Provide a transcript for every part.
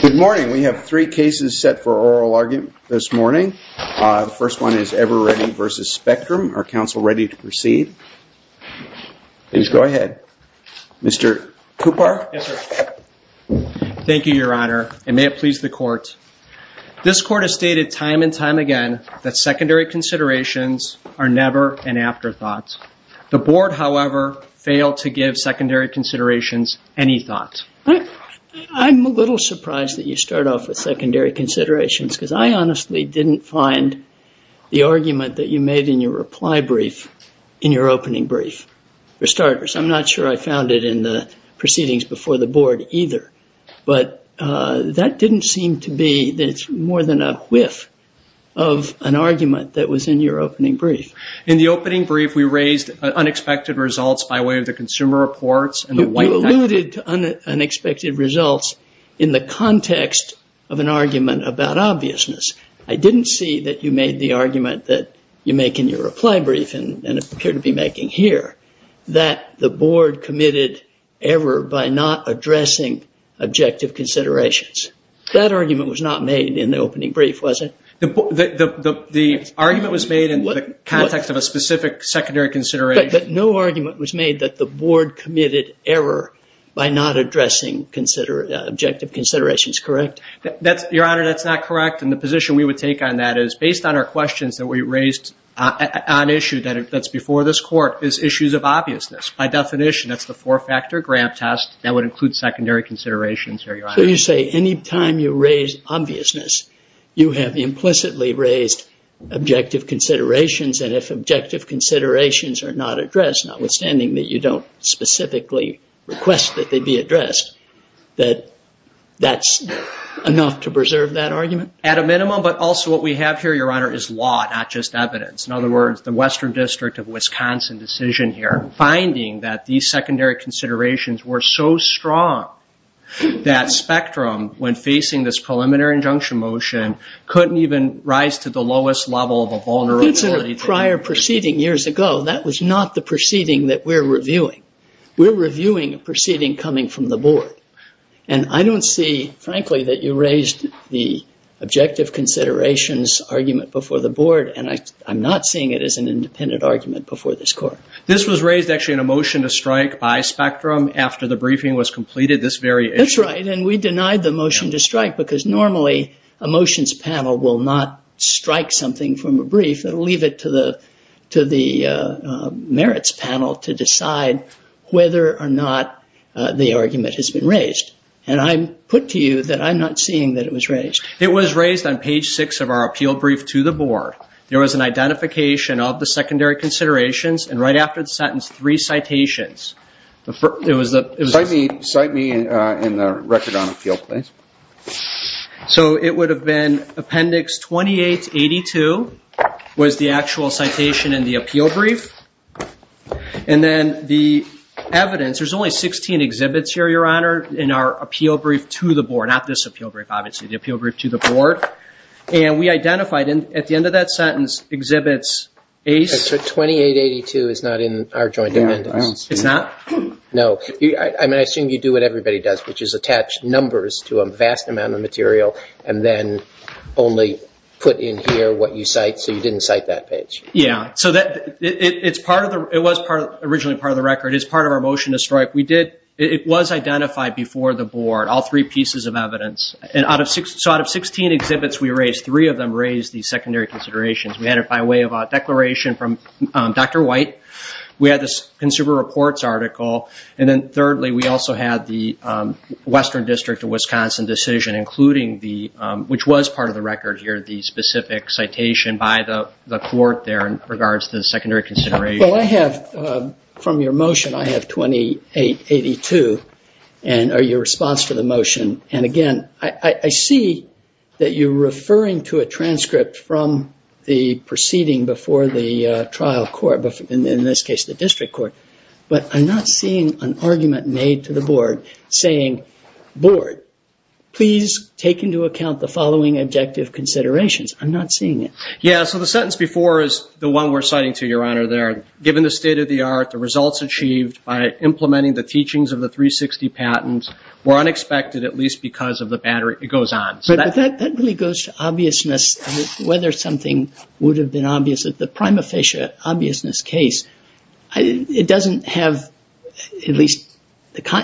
Good morning. We have three cases set for oral argument this morning. The first one is Eveready v. Spectrum. Are counsel ready to proceed? Please go ahead. Mr. Cooper? Thank you, Your Honor, and may it please the Court. This Court has stated time and time again that secondary considerations are never an afterthought. The Board, however, failed to give secondary considerations any thought. I'm a little surprised that you start off with secondary considerations, because I honestly didn't find the argument that you made in your reply brief in your opening brief. For starters, I'm not sure I found it in the proceedings before the Board either, but that didn't seem to be more than a whiff of an argument that was in your opening brief. In the opening brief, we raised unexpected results by way of the consumer reports. You alluded to unexpected results in the context of an argument about obviousness. I didn't see that you made the argument that you make in your reply brief and appear to be making here that the Board committed error by not addressing objective considerations. That argument was not made in the opening brief, was it? The argument was made in the context of a specific secondary consideration. But no argument was made that the Board committed error by not addressing objective considerations, correct? Your Honor, that's not correct, and the position we would take on that is, based on our questions that we raised on issue that's before this Court, is issues of obviousness. By definition, that's the four-factor gram test that would include secondary considerations, Your Honor. So you say any time you raise obviousness, you have implicitly raised objective considerations, and if objective considerations are not addressed, notwithstanding that you don't specifically request that they be addressed, that that's enough to preserve that argument? At a minimum, but also what we have here, Your Honor, is law, not just evidence. In other words, the Western District of Wisconsin decision here, finding that these secondary considerations were so strong, that spectrum, when facing this preliminary injunction motion, couldn't even rise to the lowest level of a vulnerability. That's a prior proceeding years ago. That was not the proceeding that we're reviewing. We're reviewing a proceeding coming from the Board, and I don't see, frankly, that you raised the objective considerations argument before the Board, and I'm not seeing it as an independent argument before this Court. This was raised, actually, in a motion to strike by spectrum after the briefing was completed, this very issue. That's right, and we denied the motion to strike, because normally a motions panel will not strike something from a brief. It will leave it to the merits panel to decide whether or not the argument has been raised, and I put to you that I'm not seeing that it was raised. It was raised on page six of our appeal brief to the Board. There was an identification of the secondary considerations, and right after the sentence, three citations. Cite me in the record on appeal, please. So it would have been appendix 2882 was the actual citation in the appeal brief, and then the evidence, there's only 16 exhibits here, Your Honor, in our appeal brief to the Board, not this appeal brief, obviously, the appeal brief to the Board, and we identified at the end of that sentence exhibits ACE. 2882 is not in our joint amendments. It's not? No. I mean, I assume you do what everybody does, which is attach numbers to a vast amount of material and then only put in here what you cite, so you didn't cite that page. Yeah, so it was originally part of the record. It's part of our motion to strike. It was identified before the Board, all three pieces of evidence, and so out of 16 exhibits we raised, three of them raised the secondary considerations. We had it by way of a declaration from Dr. White. We had the Consumer Reports article, and then thirdly we also had the Western District of Wisconsin decision, which was part of the record here, the specific citation by the court there in regards to the secondary consideration. Well, I have from your motion, I have 2882, and your response to the motion, and, again, I see that you're referring to a transcript from the proceeding before the trial court, in this case the district court, but I'm not seeing an argument made to the Board saying, Board, please take into account the following objective considerations. I'm not seeing it. Yeah, so the sentence before is the one we're citing to you, Your Honor, there. Given the state of the art, the results achieved by implementing the teachings of the 360 patent were unexpected, at least because of the battery. It goes on. But that really goes to obviousness, whether something would have been obvious at the prima facie obviousness case. It doesn't have, at least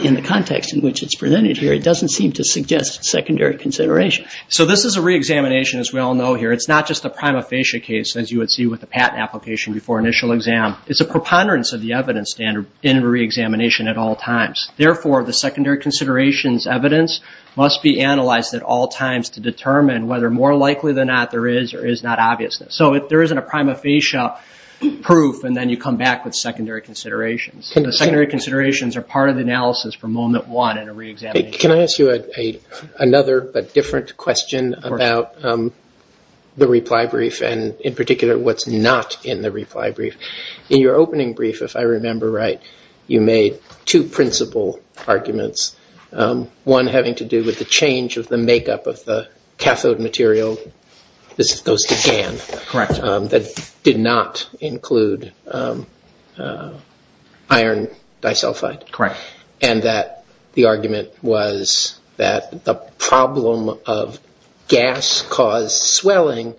in the context in which it's presented here, it doesn't seem to suggest secondary consideration. So this is a reexamination, as we all know here. It's not just a prima facie case, as you would see with the patent application before initial exam. It's a preponderance of the evidence standard in a reexamination at all times. Therefore, the secondary considerations evidence must be analyzed at all times to determine whether more likely than not there is or is not obviousness. So there isn't a prima facie proof, and then you come back with secondary considerations. The secondary considerations are part of the analysis from moment one in a reexamination. Can I ask you another but different question about the reply brief, and in particular what's not in the reply brief? In your opening brief, if I remember right, you made two principal arguments, one having to do with the change of the makeup of the cathode material. This goes to GaN. Correct. That did not include iron disulfide. Correct. And that the argument was that the problem of gas-caused swelling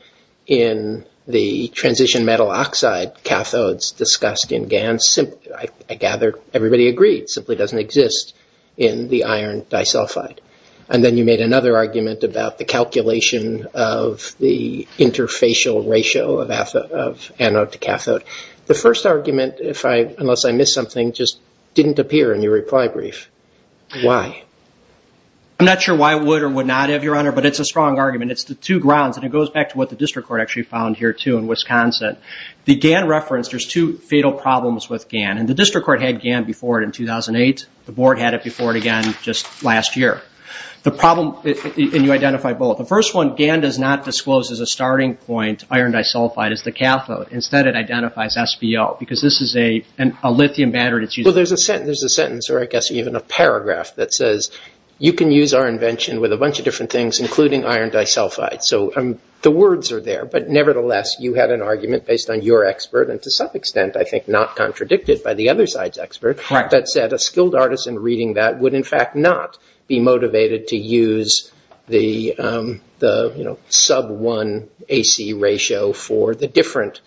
in the transition metal oxide cathodes discussed in GaN, I gather everybody agreed, simply doesn't exist in the iron disulfide. And then you made another argument about the calculation of the interfacial ratio of anode to cathode. The first argument, unless I missed something, just didn't appear in your reply brief. Why? I'm not sure why it would or would not have, Your Honor, but it's a strong argument. It's the two grounds, and it goes back to what the district court actually found here, too, in Wisconsin. The GaN reference, there's two fatal problems with GaN, and the district court had GaN before it in 2008. The board had it before it again just last year. The problem, and you identified both. The first one, GaN does not disclose as a starting point iron disulfide as the cathode. Instead, it identifies SBO because this is a lithium battery that's used. Well, there's a sentence, or I guess even a paragraph, that says, you can use our invention with a bunch of different things, including iron disulfide. So the words are there, but nevertheless, you had an argument based on your expert, and to some extent, I think, not contradicted by the other side's expert, that said a skilled artist in reading that would, in fact, not be motivated to use the sub-1 AC ratio for the different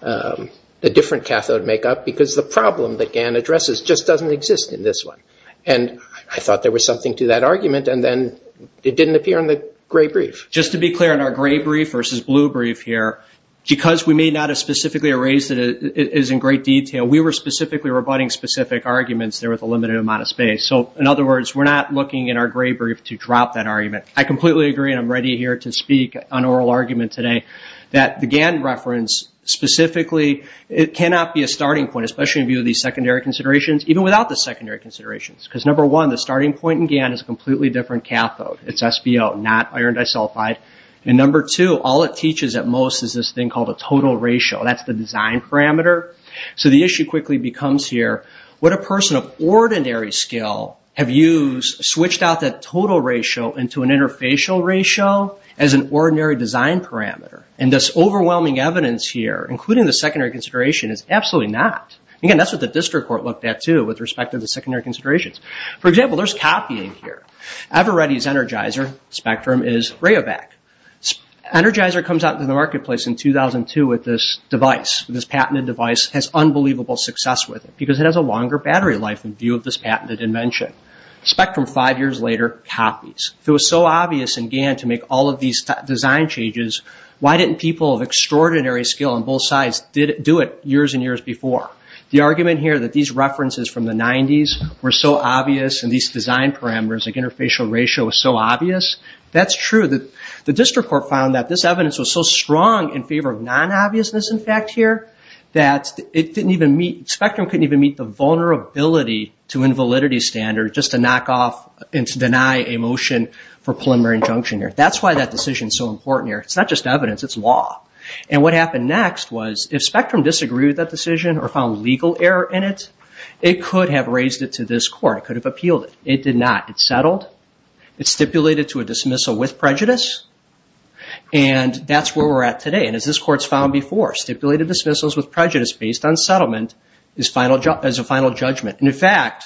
cathode makeup because the problem that GaN addresses just doesn't exist in this one. And I thought there was something to that argument, and then it didn't appear in the gray brief. Just to be clear, in our gray brief versus blue brief here, because we may not have specifically erased it as in great detail, we were specifically rebutting specific arguments there with a limited amount of space. So, in other words, we're not looking in our gray brief to drop that argument. I completely agree, and I'm ready here to speak on oral argument today, that the GaN reference specifically, it cannot be a starting point, especially in view of these secondary considerations, even without the secondary considerations. Because, number one, the starting point in GaN is a completely different cathode. It's SBO, not iron disulfide. And number two, all it teaches at most is this thing called a total ratio. That's the design parameter. So the issue quickly becomes here, what a person of ordinary skill have used, switched out that total ratio into an interfacial ratio as an ordinary design parameter. And this overwhelming evidence here, including the secondary consideration, is absolutely not. Again, that's what the district court looked at, too, with respect to the secondary considerations. For example, there's copying here. EverReady's Energizer spectrum is Rayovac. Energizer comes out into the marketplace in 2002 with this device, with this patented device, has unbelievable success with it, because it has a longer battery life in view of this patented invention. Spectrum, five years later, copies. If it was so obvious in GaN to make all of these design changes, why didn't people of extraordinary skill on both sides do it years and years before? The argument here that these references from the 90s were so obvious and these design parameters, like interfacial ratio, was so obvious, that's true. The district court found that this evidence was so strong in favor of non-obviousness, in fact, here, that Spectrum couldn't even meet the vulnerability to invalidity standard, just to knock off and to deny a motion for preliminary injunction here. That's why that decision is so important here. It's not just evidence, it's law. And what happened next was if Spectrum disagreed with that decision or found legal error in it, it could have raised it to this court, it could have appealed it. It did not. It settled, it stipulated to a dismissal with prejudice, and that's where we're at today. And as this court's found before, stipulated dismissals with prejudice based on settlement is a final judgment. And, in fact,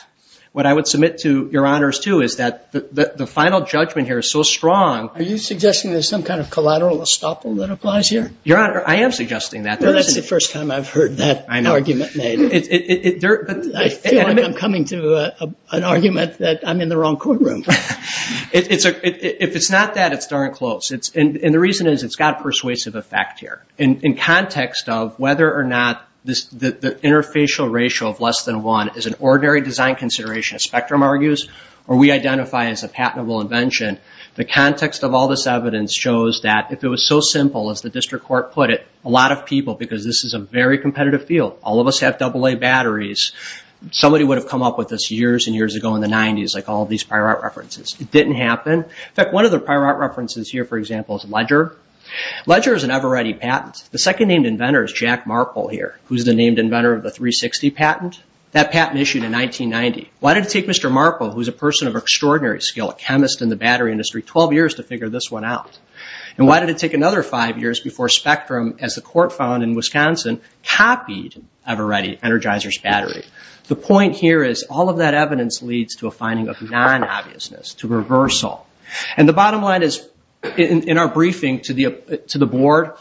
what I would submit to Your Honors, too, is that the final judgment here is so strong. Are you suggesting there's some kind of collateral estoppel that applies here? Your Honor, I am suggesting that. Well, that's the first time I've heard that argument made. I feel like I'm coming to an argument that I'm in the wrong courtroom. If it's not that, it's darn close. And the reason is it's got a persuasive effect here. In context of whether or not the interfacial ratio of less than one is an ordinary design consideration, as Spectrum argues, or we identify as a patentable invention, the context of all this evidence shows that if it was so simple, as the district court put it, a lot of people, because this is a very competitive field, all of us have AA batteries, somebody would have come up with this years and years ago in the 90s, like all these prior art references. It didn't happen. In fact, one of the prior art references here, for example, is Ledger. Ledger is an EverReady patent. The second named inventor is Jack Marple here, who's the named inventor of the 360 patent. That patent issued in 1990. Why did it take Mr. Marple, who's a person of extraordinary skill, a chemist in the battery industry, 12 years to figure this one out? And why did it take another five years before Spectrum, as the court found in Wisconsin, copied EverReady Energizer's battery? The point here is all of that evidence leads to a finding of non-obviousness, to reversal. And the bottom line is, in our briefing to the board,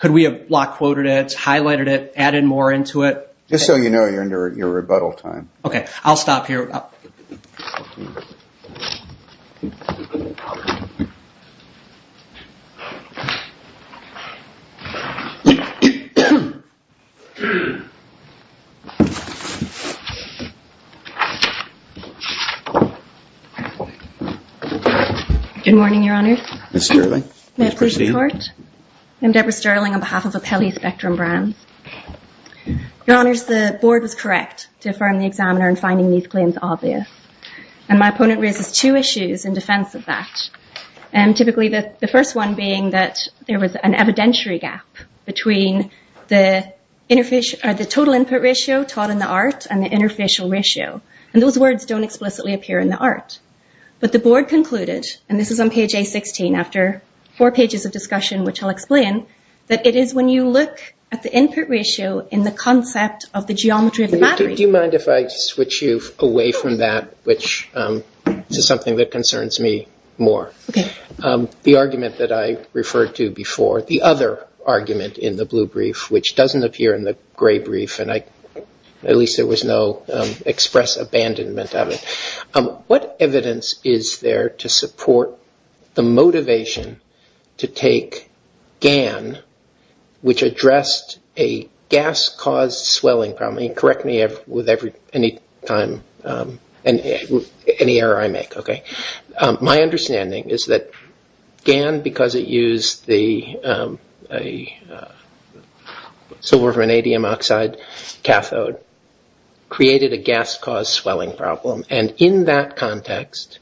could we have block quoted it, highlighted it, added more into it? Just so you know, you're under your rebuttal time. Okay, I'll stop here. Good morning, Your Honor. Ms. Sterling. May I proceed? I'm Deborah Sterling on behalf of Apelli Spectrum Brands. Your Honors, the board was correct to affirm the examiner in finding these claims obvious. And my opponent raises two issues in defense of that, typically the first one being that there was an evidentiary gap between the total input ratio taught in the art and the interfacial ratio. And those words don't explicitly appear in the art. But the board concluded, and this is on page A16 after four pages of discussion, which I'll explain, that it is when you look at the input ratio in the concept of the geometry of the battery. Do you mind if I switch you away from that, which is something that concerns me more? Okay. The argument that I referred to before, the other argument in the blue brief, which doesn't appear in the gray brief, and at least there was no express abandonment of it. What evidence is there to support the motivation to take GAN, which addressed a gas-caused swelling problem? And correct me with any error I make, okay? My understanding is that GAN, because it used the silver vanadium oxide cathode, created a gas-caused swelling problem. And in that context,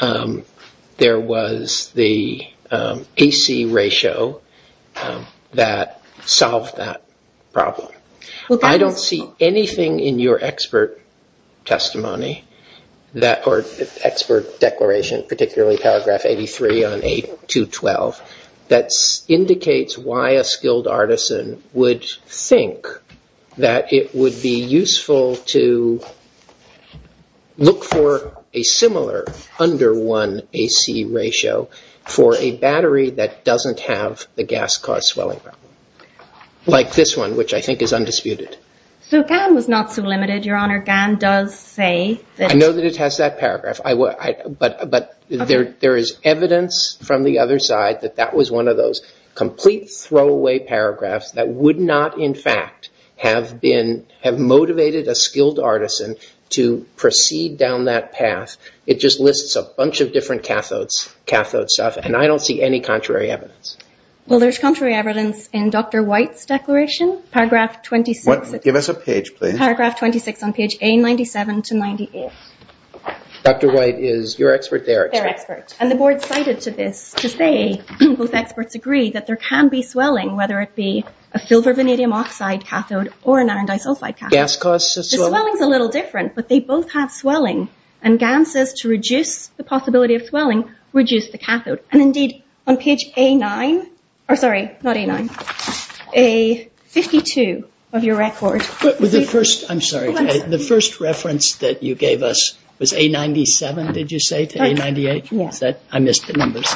there was the AC ratio that solved that problem. I don't see anything in your expert testimony or expert declaration, particularly paragraph 83 on A212, that indicates why a skilled artisan would think that it would be useful to look for a similar under-1 AC ratio for a battery that doesn't have the gas-caused swelling problem, like this one, which I think is undisputed. So GAN was not so limited, Your Honor. GAN does say that... that that was one of those complete throwaway paragraphs that would not, in fact, have motivated a skilled artisan to proceed down that path. It just lists a bunch of different cathode stuff, and I don't see any contrary evidence. Well, there's contrary evidence in Dr. White's declaration, paragraph 26. Give us a page, please. Paragraph 26 on page A97 to 98. Dr. White is your expert, their expert. And the board cited to this to say, both experts agree, that there can be swelling, whether it be a silver vanadium oxide cathode or an iron disulfide cathode. Gas-caused swelling? The swelling's a little different, but they both have swelling, and GAN says to reduce the possibility of swelling, reduce the cathode. And indeed, on page A9, or sorry, not A9, A52 of your record... The first reference that you gave us was A97, did you say, to A98? Yes. I missed the numbers.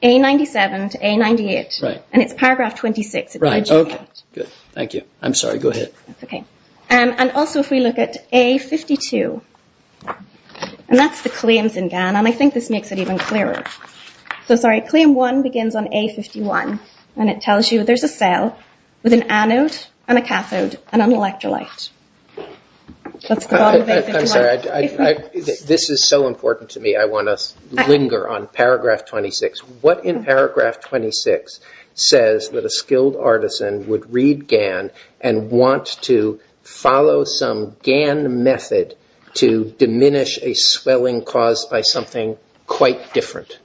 A97 to A98. Right. And it's paragraph 26. Right, okay. Good, thank you. I'm sorry, go ahead. Okay. And also, if we look at A52, and that's the claims in GAN, and I think this makes it even clearer. So, sorry, claim one begins on A51, and it tells you there's a cell with an anode and a cathode and an electrolyte. I'm sorry, this is so important to me, I want to linger on paragraph 26. What in paragraph 26 says that a skilled artisan would read GAN and want to follow some GAN method to diminish a swelling caused by something quite different,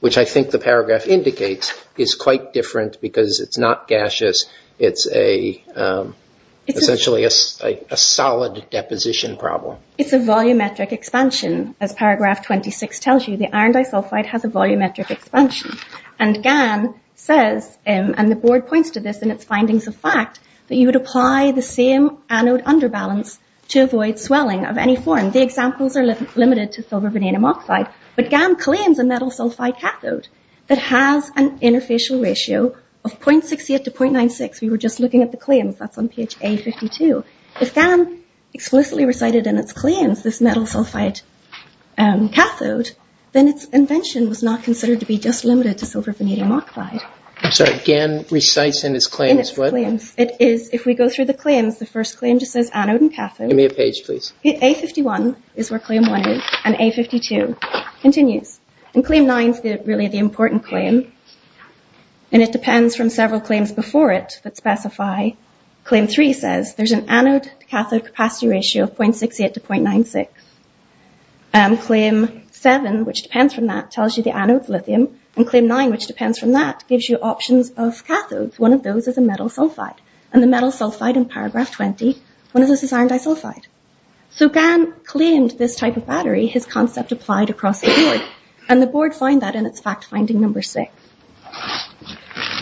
which I think the paragraph indicates is quite different because it's not gaseous, it's essentially a solid deposition problem. It's a volumetric expansion, as paragraph 26 tells you. The iron disulfide has a volumetric expansion. And GAN says, and the board points to this in its findings of fact, that you would apply the same anode underbalance to avoid swelling of any form. Again, the examples are limited to silver vanadium oxide, but GAN claims a metal sulfide cathode that has an interfacial ratio of 0.68 to 0.96. We were just looking at the claims, that's on page A52. If GAN explicitly recited in its claims this metal sulfide cathode, then its invention was not considered to be just limited to silver vanadium oxide. I'm sorry, GAN recites in its claims what? In its claims. If we go through the claims, the first claim just says anode and cathode. Give me a page, please. A51 is where claim 1 is, and A52 continues. And claim 9 is really the important claim, and it depends from several claims before it that specify. Claim 3 says there's an anode to cathode capacity ratio of 0.68 to 0.96. Claim 7, which depends from that, tells you the anode's lithium. And claim 9, which depends from that, gives you options of cathodes. One of those is a metal sulfide. And the metal sulfide in paragraph 20, one of those is iron disulfide. So GAN claimed this type of battery, his concept applied across the board, and the board found that in its fact finding number 6.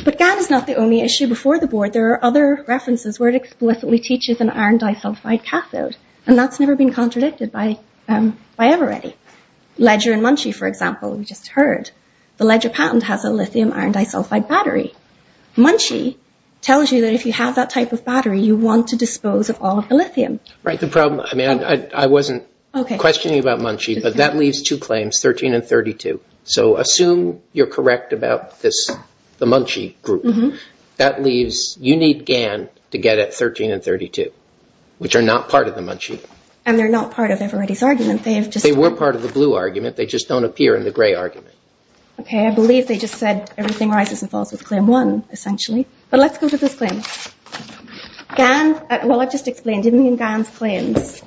But GAN is not the only issue before the board. There are other references where it explicitly teaches an iron disulfide cathode, and that's never been contradicted by EverReady. Ledger and Munchie, for example, we just heard. The Ledger patent has a lithium iron disulfide battery. Munchie tells you that if you have that type of battery, you want to dispose of all of the lithium. Right, the problem, I mean, I wasn't questioning about Munchie, but that leaves two claims, 13 and 32. So assume you're correct about this, the Munchie group. That leaves, you need GAN to get at 13 and 32, which are not part of the Munchie. And they're not part of EverReady's argument. They were part of the blue argument. They just don't appear in the gray argument. Okay, I believe they just said everything rises and falls with Claim 1, essentially. But let's go to this claim. GAN, well, I've just explained. Even in GAN's claims,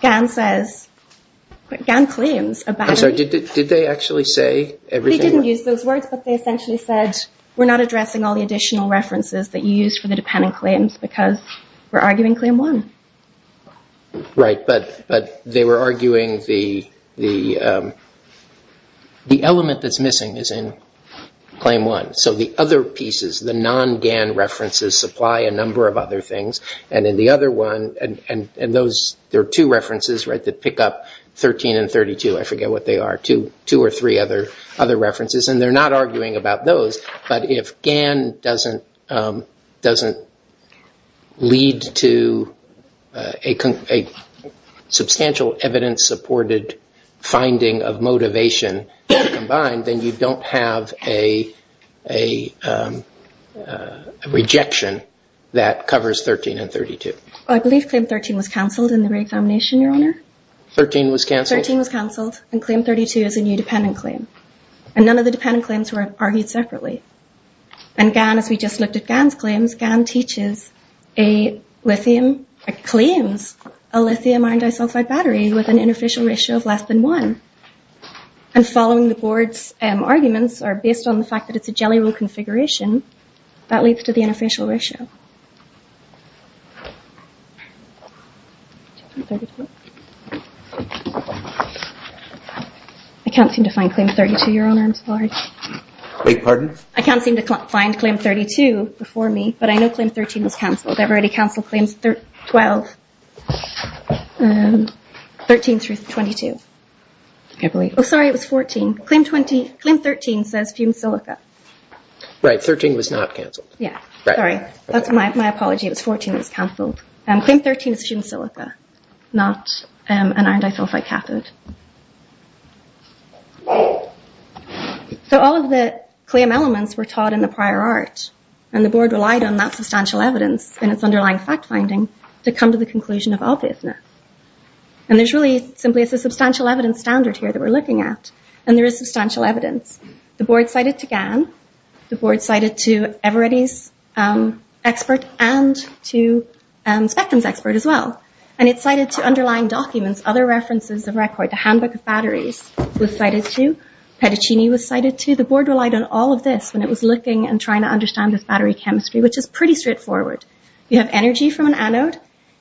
GAN says, GAN claims a battery. I'm sorry, did they actually say everything? They didn't use those words, but they essentially said, we're not addressing all the additional references that you used for the dependent claims because we're arguing Claim 1. Right, but they were arguing the element that's missing is in Claim 1. So the other pieces, the non-GAN references, supply a number of other things. And in the other one, and those, there are two references, right, that pick up 13 and 32. I forget what they are, two or three other references. And they're not arguing about those. But if GAN doesn't lead to a substantial evidence-supported finding of motivation combined, then you don't have a rejection that covers 13 and 32. I believe Claim 13 was cancelled in the Gray Foundation, Your Honor. 13 was cancelled? 13 was cancelled, and Claim 32 is a new dependent claim. And none of the dependent claims were argued separately. And GAN, as we just looked at GAN's claims, GAN teaches a lithium, claims a lithium-iron disulfide battery with an interfacial ratio of less than one. And following the board's arguments, or based on the fact that it's a Jelly Roll configuration, that leads to the interfacial ratio. I can't seem to find Claim 32, Your Honor. I'm sorry. Wait, pardon? I can't seem to find Claim 32 before me, but I know Claim 13 was cancelled. Everybody cancelled Claims 12, 13 through 22, I believe. Oh, sorry, it was 14. Claim 13 says fumed silica. Right, 13 was not cancelled. Yeah, sorry. That's my apology. It was 14 that was cancelled. And Claim 13 is fumed silica, not an iron disulfide cathode. So all of the claim elements were taught in the prior art, and the board relied on that substantial evidence and its underlying fact-finding to come to the conclusion of obviousness. And there's really simply a substantial evidence standard here that we're looking at, and there is substantial evidence. The board cited to Gann, the board cited to Everetti's expert, and to Spectum's expert as well. And it cited to underlying documents other references of record. The Handbook of Batteries was cited to, Pettuccini was cited to. The board relied on all of this when it was looking and trying to understand this battery chemistry, which is pretty straightforward. You have energy from an anode,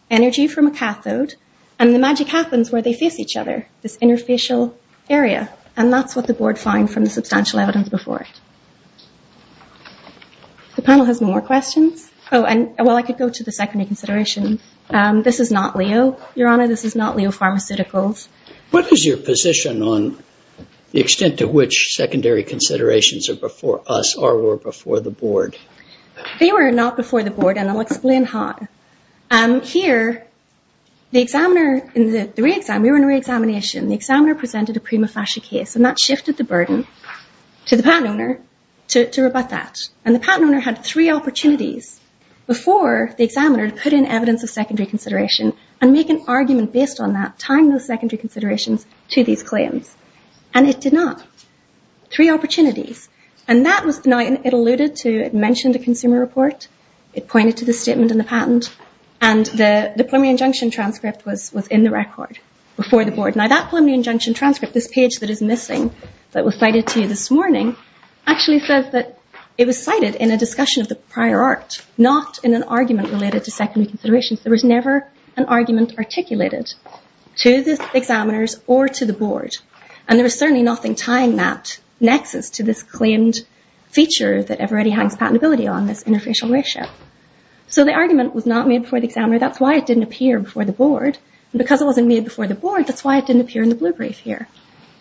energy from a cathode, and the magic happens where they face each other, this interfacial area. And that's what the board found from the substantial evidence before it. The panel has more questions? Oh, well, I could go to the secondary consideration. This is not Leo, Your Honor. This is not Leo Pharmaceuticals. What is your position on the extent to which secondary considerations are before us or were before the board? They were not before the board, and I'll explain how. Here, the examiner in the re-exam, we were in a re-examination. The examiner presented a prima facie case, and that shifted the burden to the patent owner to rebut that. And the patent owner had three opportunities before the examiner to put in evidence of secondary consideration and make an argument based on that, tying those secondary considerations to these claims. And it did not. Three opportunities. Now, it alluded to, it mentioned a consumer report. It pointed to the statement in the patent. And the preliminary injunction transcript was in the record before the board. Now, that preliminary injunction transcript, this page that is missing that was cited to you this morning, actually says that it was cited in a discussion of the prior art, not in an argument related to secondary considerations. There was never an argument articulated to the examiners or to the board. And there was certainly nothing tying that nexus to this claimed feature that everybody has patentability on, this interfacial ratio. So the argument was not made before the examiner. That's why it didn't appear before the board. And because it wasn't made before the board, that's why it didn't appear in the blue brief here.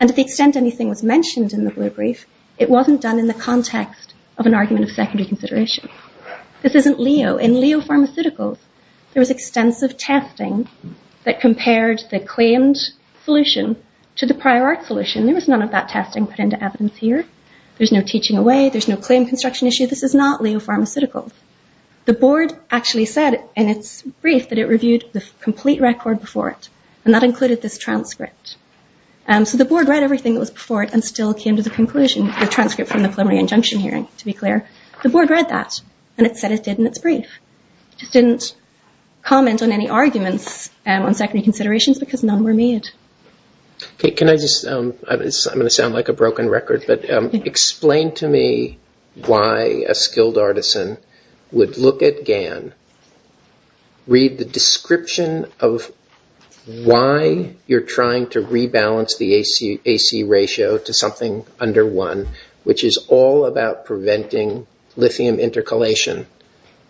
And to the extent anything was mentioned in the blue brief, it wasn't done in the context of an argument of secondary consideration. This isn't Leo. In Leo Pharmaceuticals, there was extensive testing that compared the claimed solution to the prior art solution. There was none of that testing put into evidence here. There's no teaching away. There's no claim construction issue. This is not Leo Pharmaceuticals. The board actually said in its brief that it reviewed the complete record before it. And that included this transcript. So the board read everything that was before it and still came to the conclusion, the transcript from the preliminary injunction hearing, to be clear. The board read that, and it said it did in its brief. It just didn't comment on any arguments on secondary considerations because none were made. Can I just, I'm going to sound like a broken record, but explain to me why a skilled artisan would look at GAN, read the description of why you're trying to rebalance the AC ratio to something under one, which is all about preventing lithium intercalation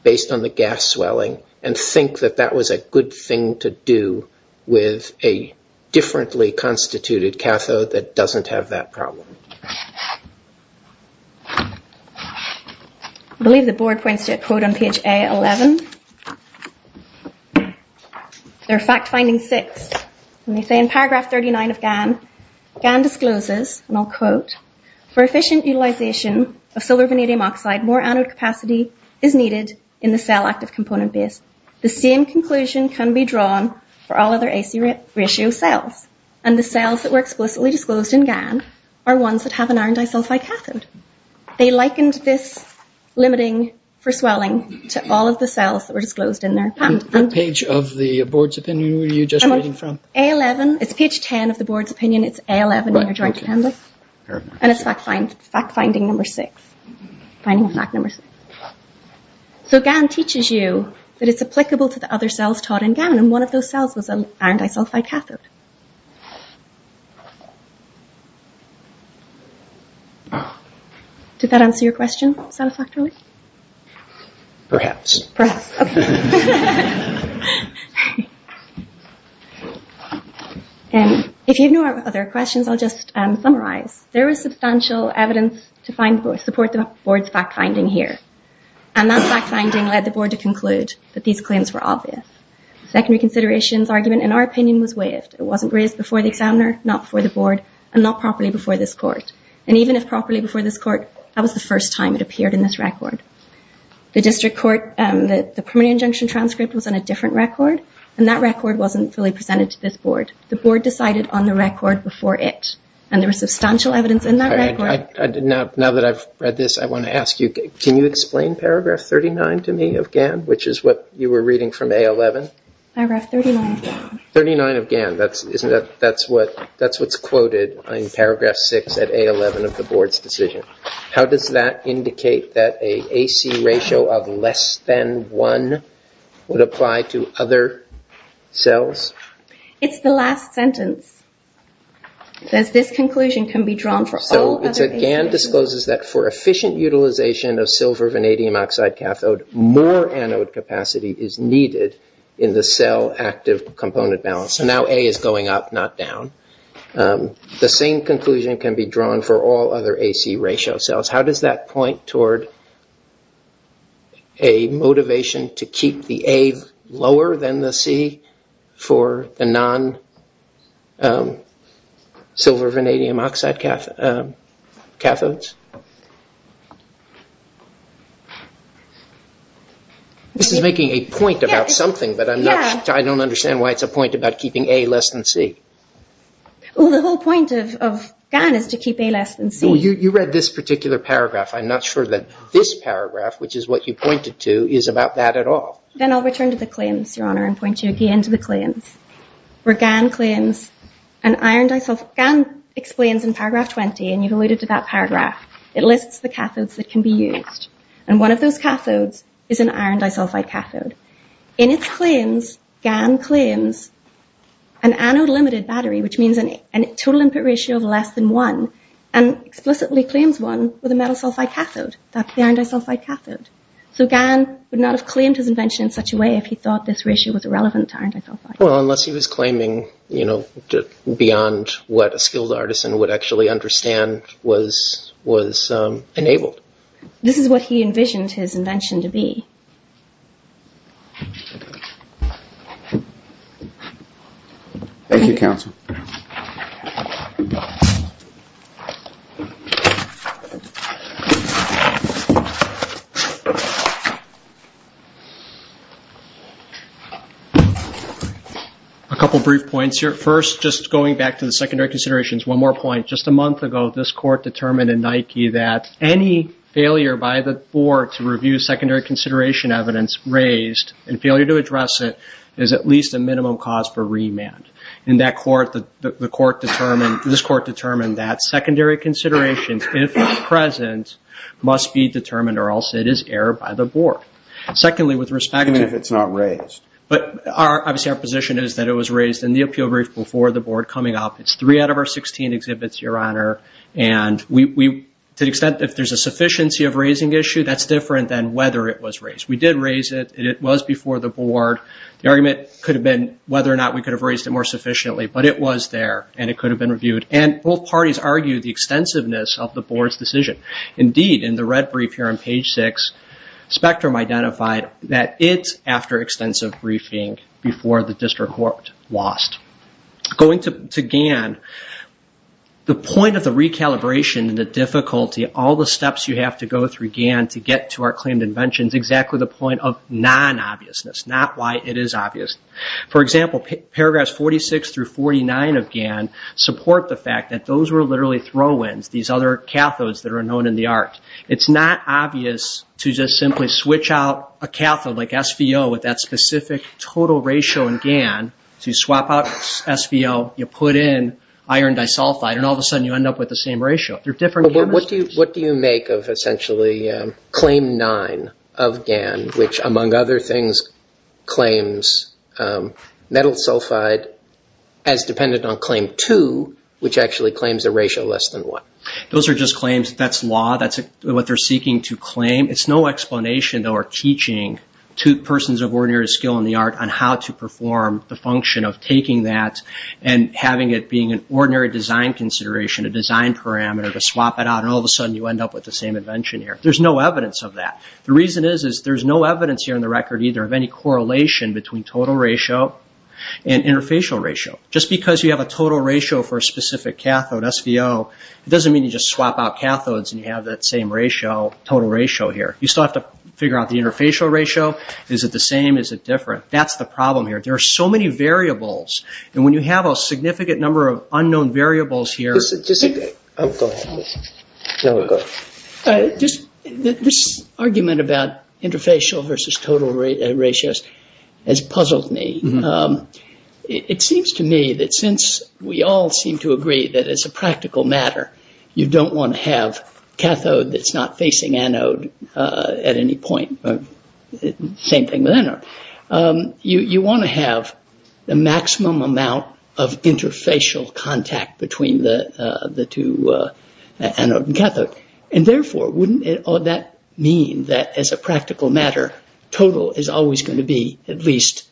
based on the gas swelling, and think that that was a good thing to do with a differently constituted cathode that doesn't have that problem? I believe the board points to a quote on page A11. They're fact finding six. And they say in paragraph 39 of GAN, GAN discloses, and I'll quote, for efficient utilization of silver vanadium oxide, more anode capacity is needed in the cell active component base. The same conclusion can be drawn for all other AC ratio cells. And the cells that were explicitly disclosed in GAN are ones that have an iron disulfide cathode. They likened this limiting for swelling to all of the cells that were disclosed in their patent. What page of the board's opinion were you just reading from? A11, it's page 10 of the board's opinion. It's A11 in your joint pamphlet. And it's fact finding number six. So GAN teaches you that it's applicable to the other cells taught in GAN, and one of those cells was an iron disulfide cathode. Did that answer your question satisfactorily? Perhaps. If you have no other questions, I'll just summarize. There was substantial evidence to support the board's fact finding here. And that fact finding led the board to conclude that these claims were obvious. Secondary considerations argument, in our opinion, was waived. It wasn't raised before the examiner, not before the board, and not properly before this court. And even if properly before this court, that was the first time it appeared in this record. The district court, the primary injunction transcript was on a different record, and that record wasn't fully presented to this board. The board decided on the record before it. And there was substantial evidence in that record. Now that I've read this, I want to ask you, can you explain paragraph 39 to me of GAN, which is what you were reading from A11? Paragraph 39 of GAN. 39 of GAN. That's what's quoted in paragraph 6 at A11 of the board's decision. How does that indicate that an AC ratio of less than 1 would apply to other cells? It's the last sentence. It says, this conclusion can be drawn for all other A11s. GAN discloses that for efficient utilization of silver vanadium oxide cathode, more anode capacity is needed in the cell active component balance. So now A is going up, not down. The same conclusion can be drawn for all other AC ratio cells. How does that point toward a motivation to keep the A lower than the C for the non-silver vanadium oxide cathodes? This is making a point about something, but I don't understand why it's a point about keeping A less than C. Well, the whole point of GAN is to keep A less than C. Well, you read this particular paragraph. I'm not sure that this paragraph, which is what you pointed to, is about that at all. Then I'll return to the claims, Your Honor, and point you again to the claims. Where GAN explains in paragraph 20, and you alluded to that paragraph, it lists the cathodes that can be used. And one of those cathodes is an iron disulfide cathode. In its claims, GAN claims an anode limited battery, which means a total input ratio of less than 1, and explicitly claims one with a metal sulfide cathode, that's the iron disulfide cathode. So GAN would not have claimed his invention in such a way if he thought this ratio was irrelevant to iron disulfide. Well, unless he was claiming, you know, beyond what a skilled artisan would actually understand was enabled. This is what he envisioned his invention to be. Thank you, counsel. A couple brief points here. First, just going back to the secondary considerations, one more point. Just a month ago, this court determined in Nike that any failure by the board to review secondary consideration evidence raised, and failure to address it, is at least a minimum cause for remand. In that court, the court determined, this court determined that secondary considerations, if present, must be determined, or else it is error by the board. Secondly, with respect to... Even if it's not raised. But obviously our position is that it was raised in the appeal brief before the board coming up. It's three out of our 16 exhibits, Your Honor. And to the extent that there's a sufficiency of raising issue, that's different than whether it was raised. We did raise it. It was before the board. The argument could have been whether or not we could have raised it more sufficiently. But it was there, and it could have been reviewed. And both parties argued the extensiveness of the board's decision. Indeed, in the red brief here on page six, Spectrum identified that it's after extensive briefing before the district court lost. Going to GAN, the point of the recalibration and the difficulty, all the steps you have to go through GAN to get to our claimed invention, is exactly the point of non-obviousness, not why it is obvious. For example, paragraphs 46 through 49 of GAN support the fact that those were literally throw-ins, these other cathodes that are known in the art. It's not obvious to just simply switch out a cathode like SVO with that specific total ratio in GAN to swap out SVO, you put in iron disulfide, and all of a sudden you end up with the same ratio. What do you make of essentially claim nine of GAN, which among other things claims metal sulfide as dependent on claim two, which actually claims a ratio less than one? Those are just claims. That's law. That's what they're seeking to claim. It's no explanation, though, or teaching to persons of ordinary skill in the art on how to perform the function of taking that and having it being an ordinary design consideration, a design parameter, to swap it out, and all of a sudden you end up with the same invention here. There's no evidence of that. The reason is there's no evidence here on the record either of any correlation between total ratio and interfacial ratio. Just because you have a total ratio for a specific cathode, SVO, it doesn't mean you just swap out cathodes and you have that same ratio, total ratio here. You still have to figure out the interfacial ratio. Is it the same? Is it different? That's the problem here. There are so many variables, and when you have a significant number of unknown variables here. Just a second. This argument about interfacial versus total ratios has puzzled me. It seems to me that since we all seem to agree that as a practical matter you don't want to have cathode that's not facing anode at any point, same thing with anode, you want to have the maximum amount of interfacial contact between the two, anode and cathode, and therefore wouldn't that mean that as a practical matter total is always going to be at least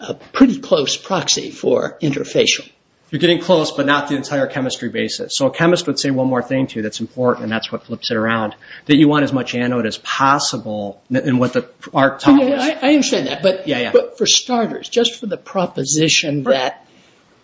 a pretty close proxy for interfacial? You're getting close, but not the entire chemistry basis. A chemist would say one more thing to you that's important, and that's what flips it around, that you want as much anode as possible in what the archetype is. I understand that, but for starters, just for the proposition that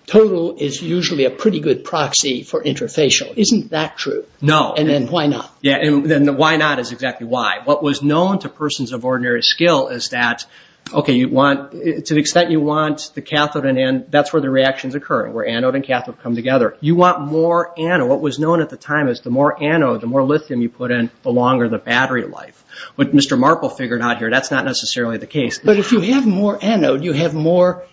total is usually a pretty good proxy for interfacial. Isn't that true? No. Then why not? Why not is exactly why. What was known to persons of ordinary skill is that to the extent you want the cathode in, that's where the reactions occur, where anode and cathode come together. You want more anode. What was known at the time is the more anode, the more lithium you put in, the longer the battery life. What Mr. Marple figured out here, that's not necessarily the case. But if you have more anode, you have more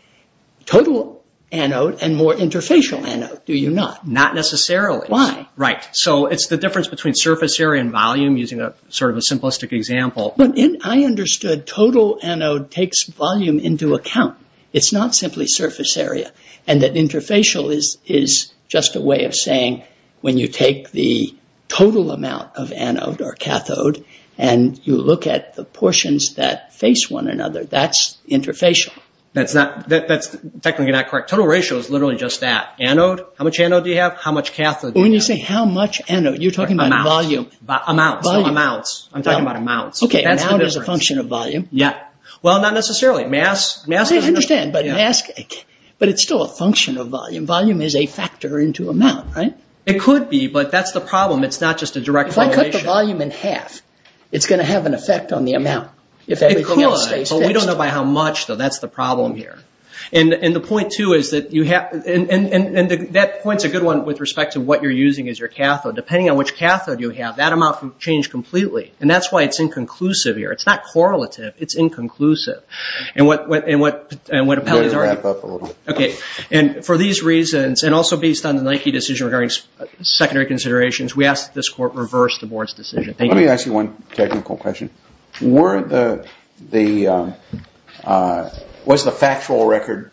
total anode and more interfacial anode, do you not? Not necessarily. Why? Right. So it's the difference between surface area and volume, using sort of a simplistic example. I understood total anode takes volume into account. It's not simply surface area. And that interfacial is just a way of saying when you take the total amount of anode or cathode and you look at the portions that face one another, that's interfacial. That's technically not correct. Total ratio is literally just that. Anode, how much anode do you have? How much cathode do you have? When you say how much anode, you're talking about volume. Amounts. Amounts. Amounts. I'm talking about amounts. Okay. Amount is a function of volume. Yeah. Well, not necessarily. Mass. I understand. But it's still a function of volume. Volume is a factor into amount, right? It could be, but that's the problem. It's not just a direct correlation. If I cut the volume in half, it's going to have an effect on the amount. It could, but we don't know by how much, though. That's the problem here. And the point, too, is that you have – and that point's a good one with respect to what you're using as your cathode. Depending on which cathode you have, that amount can change completely, and that's why it's inconclusive here. It's not correlative. It's inconclusive. And what appellees argue – We're going to wrap up a little. Okay. And for these reasons, and also based on the Nike decision regarding secondary considerations, we ask that this Court reverse the Board's decision. Thank you. Let me ask you one technical question. Were the – was the factual record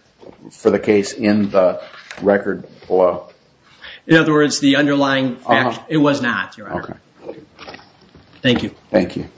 for the case in the record below? In other words, the underlying – it was not, Your Honor. Okay. Thank you. Thank you.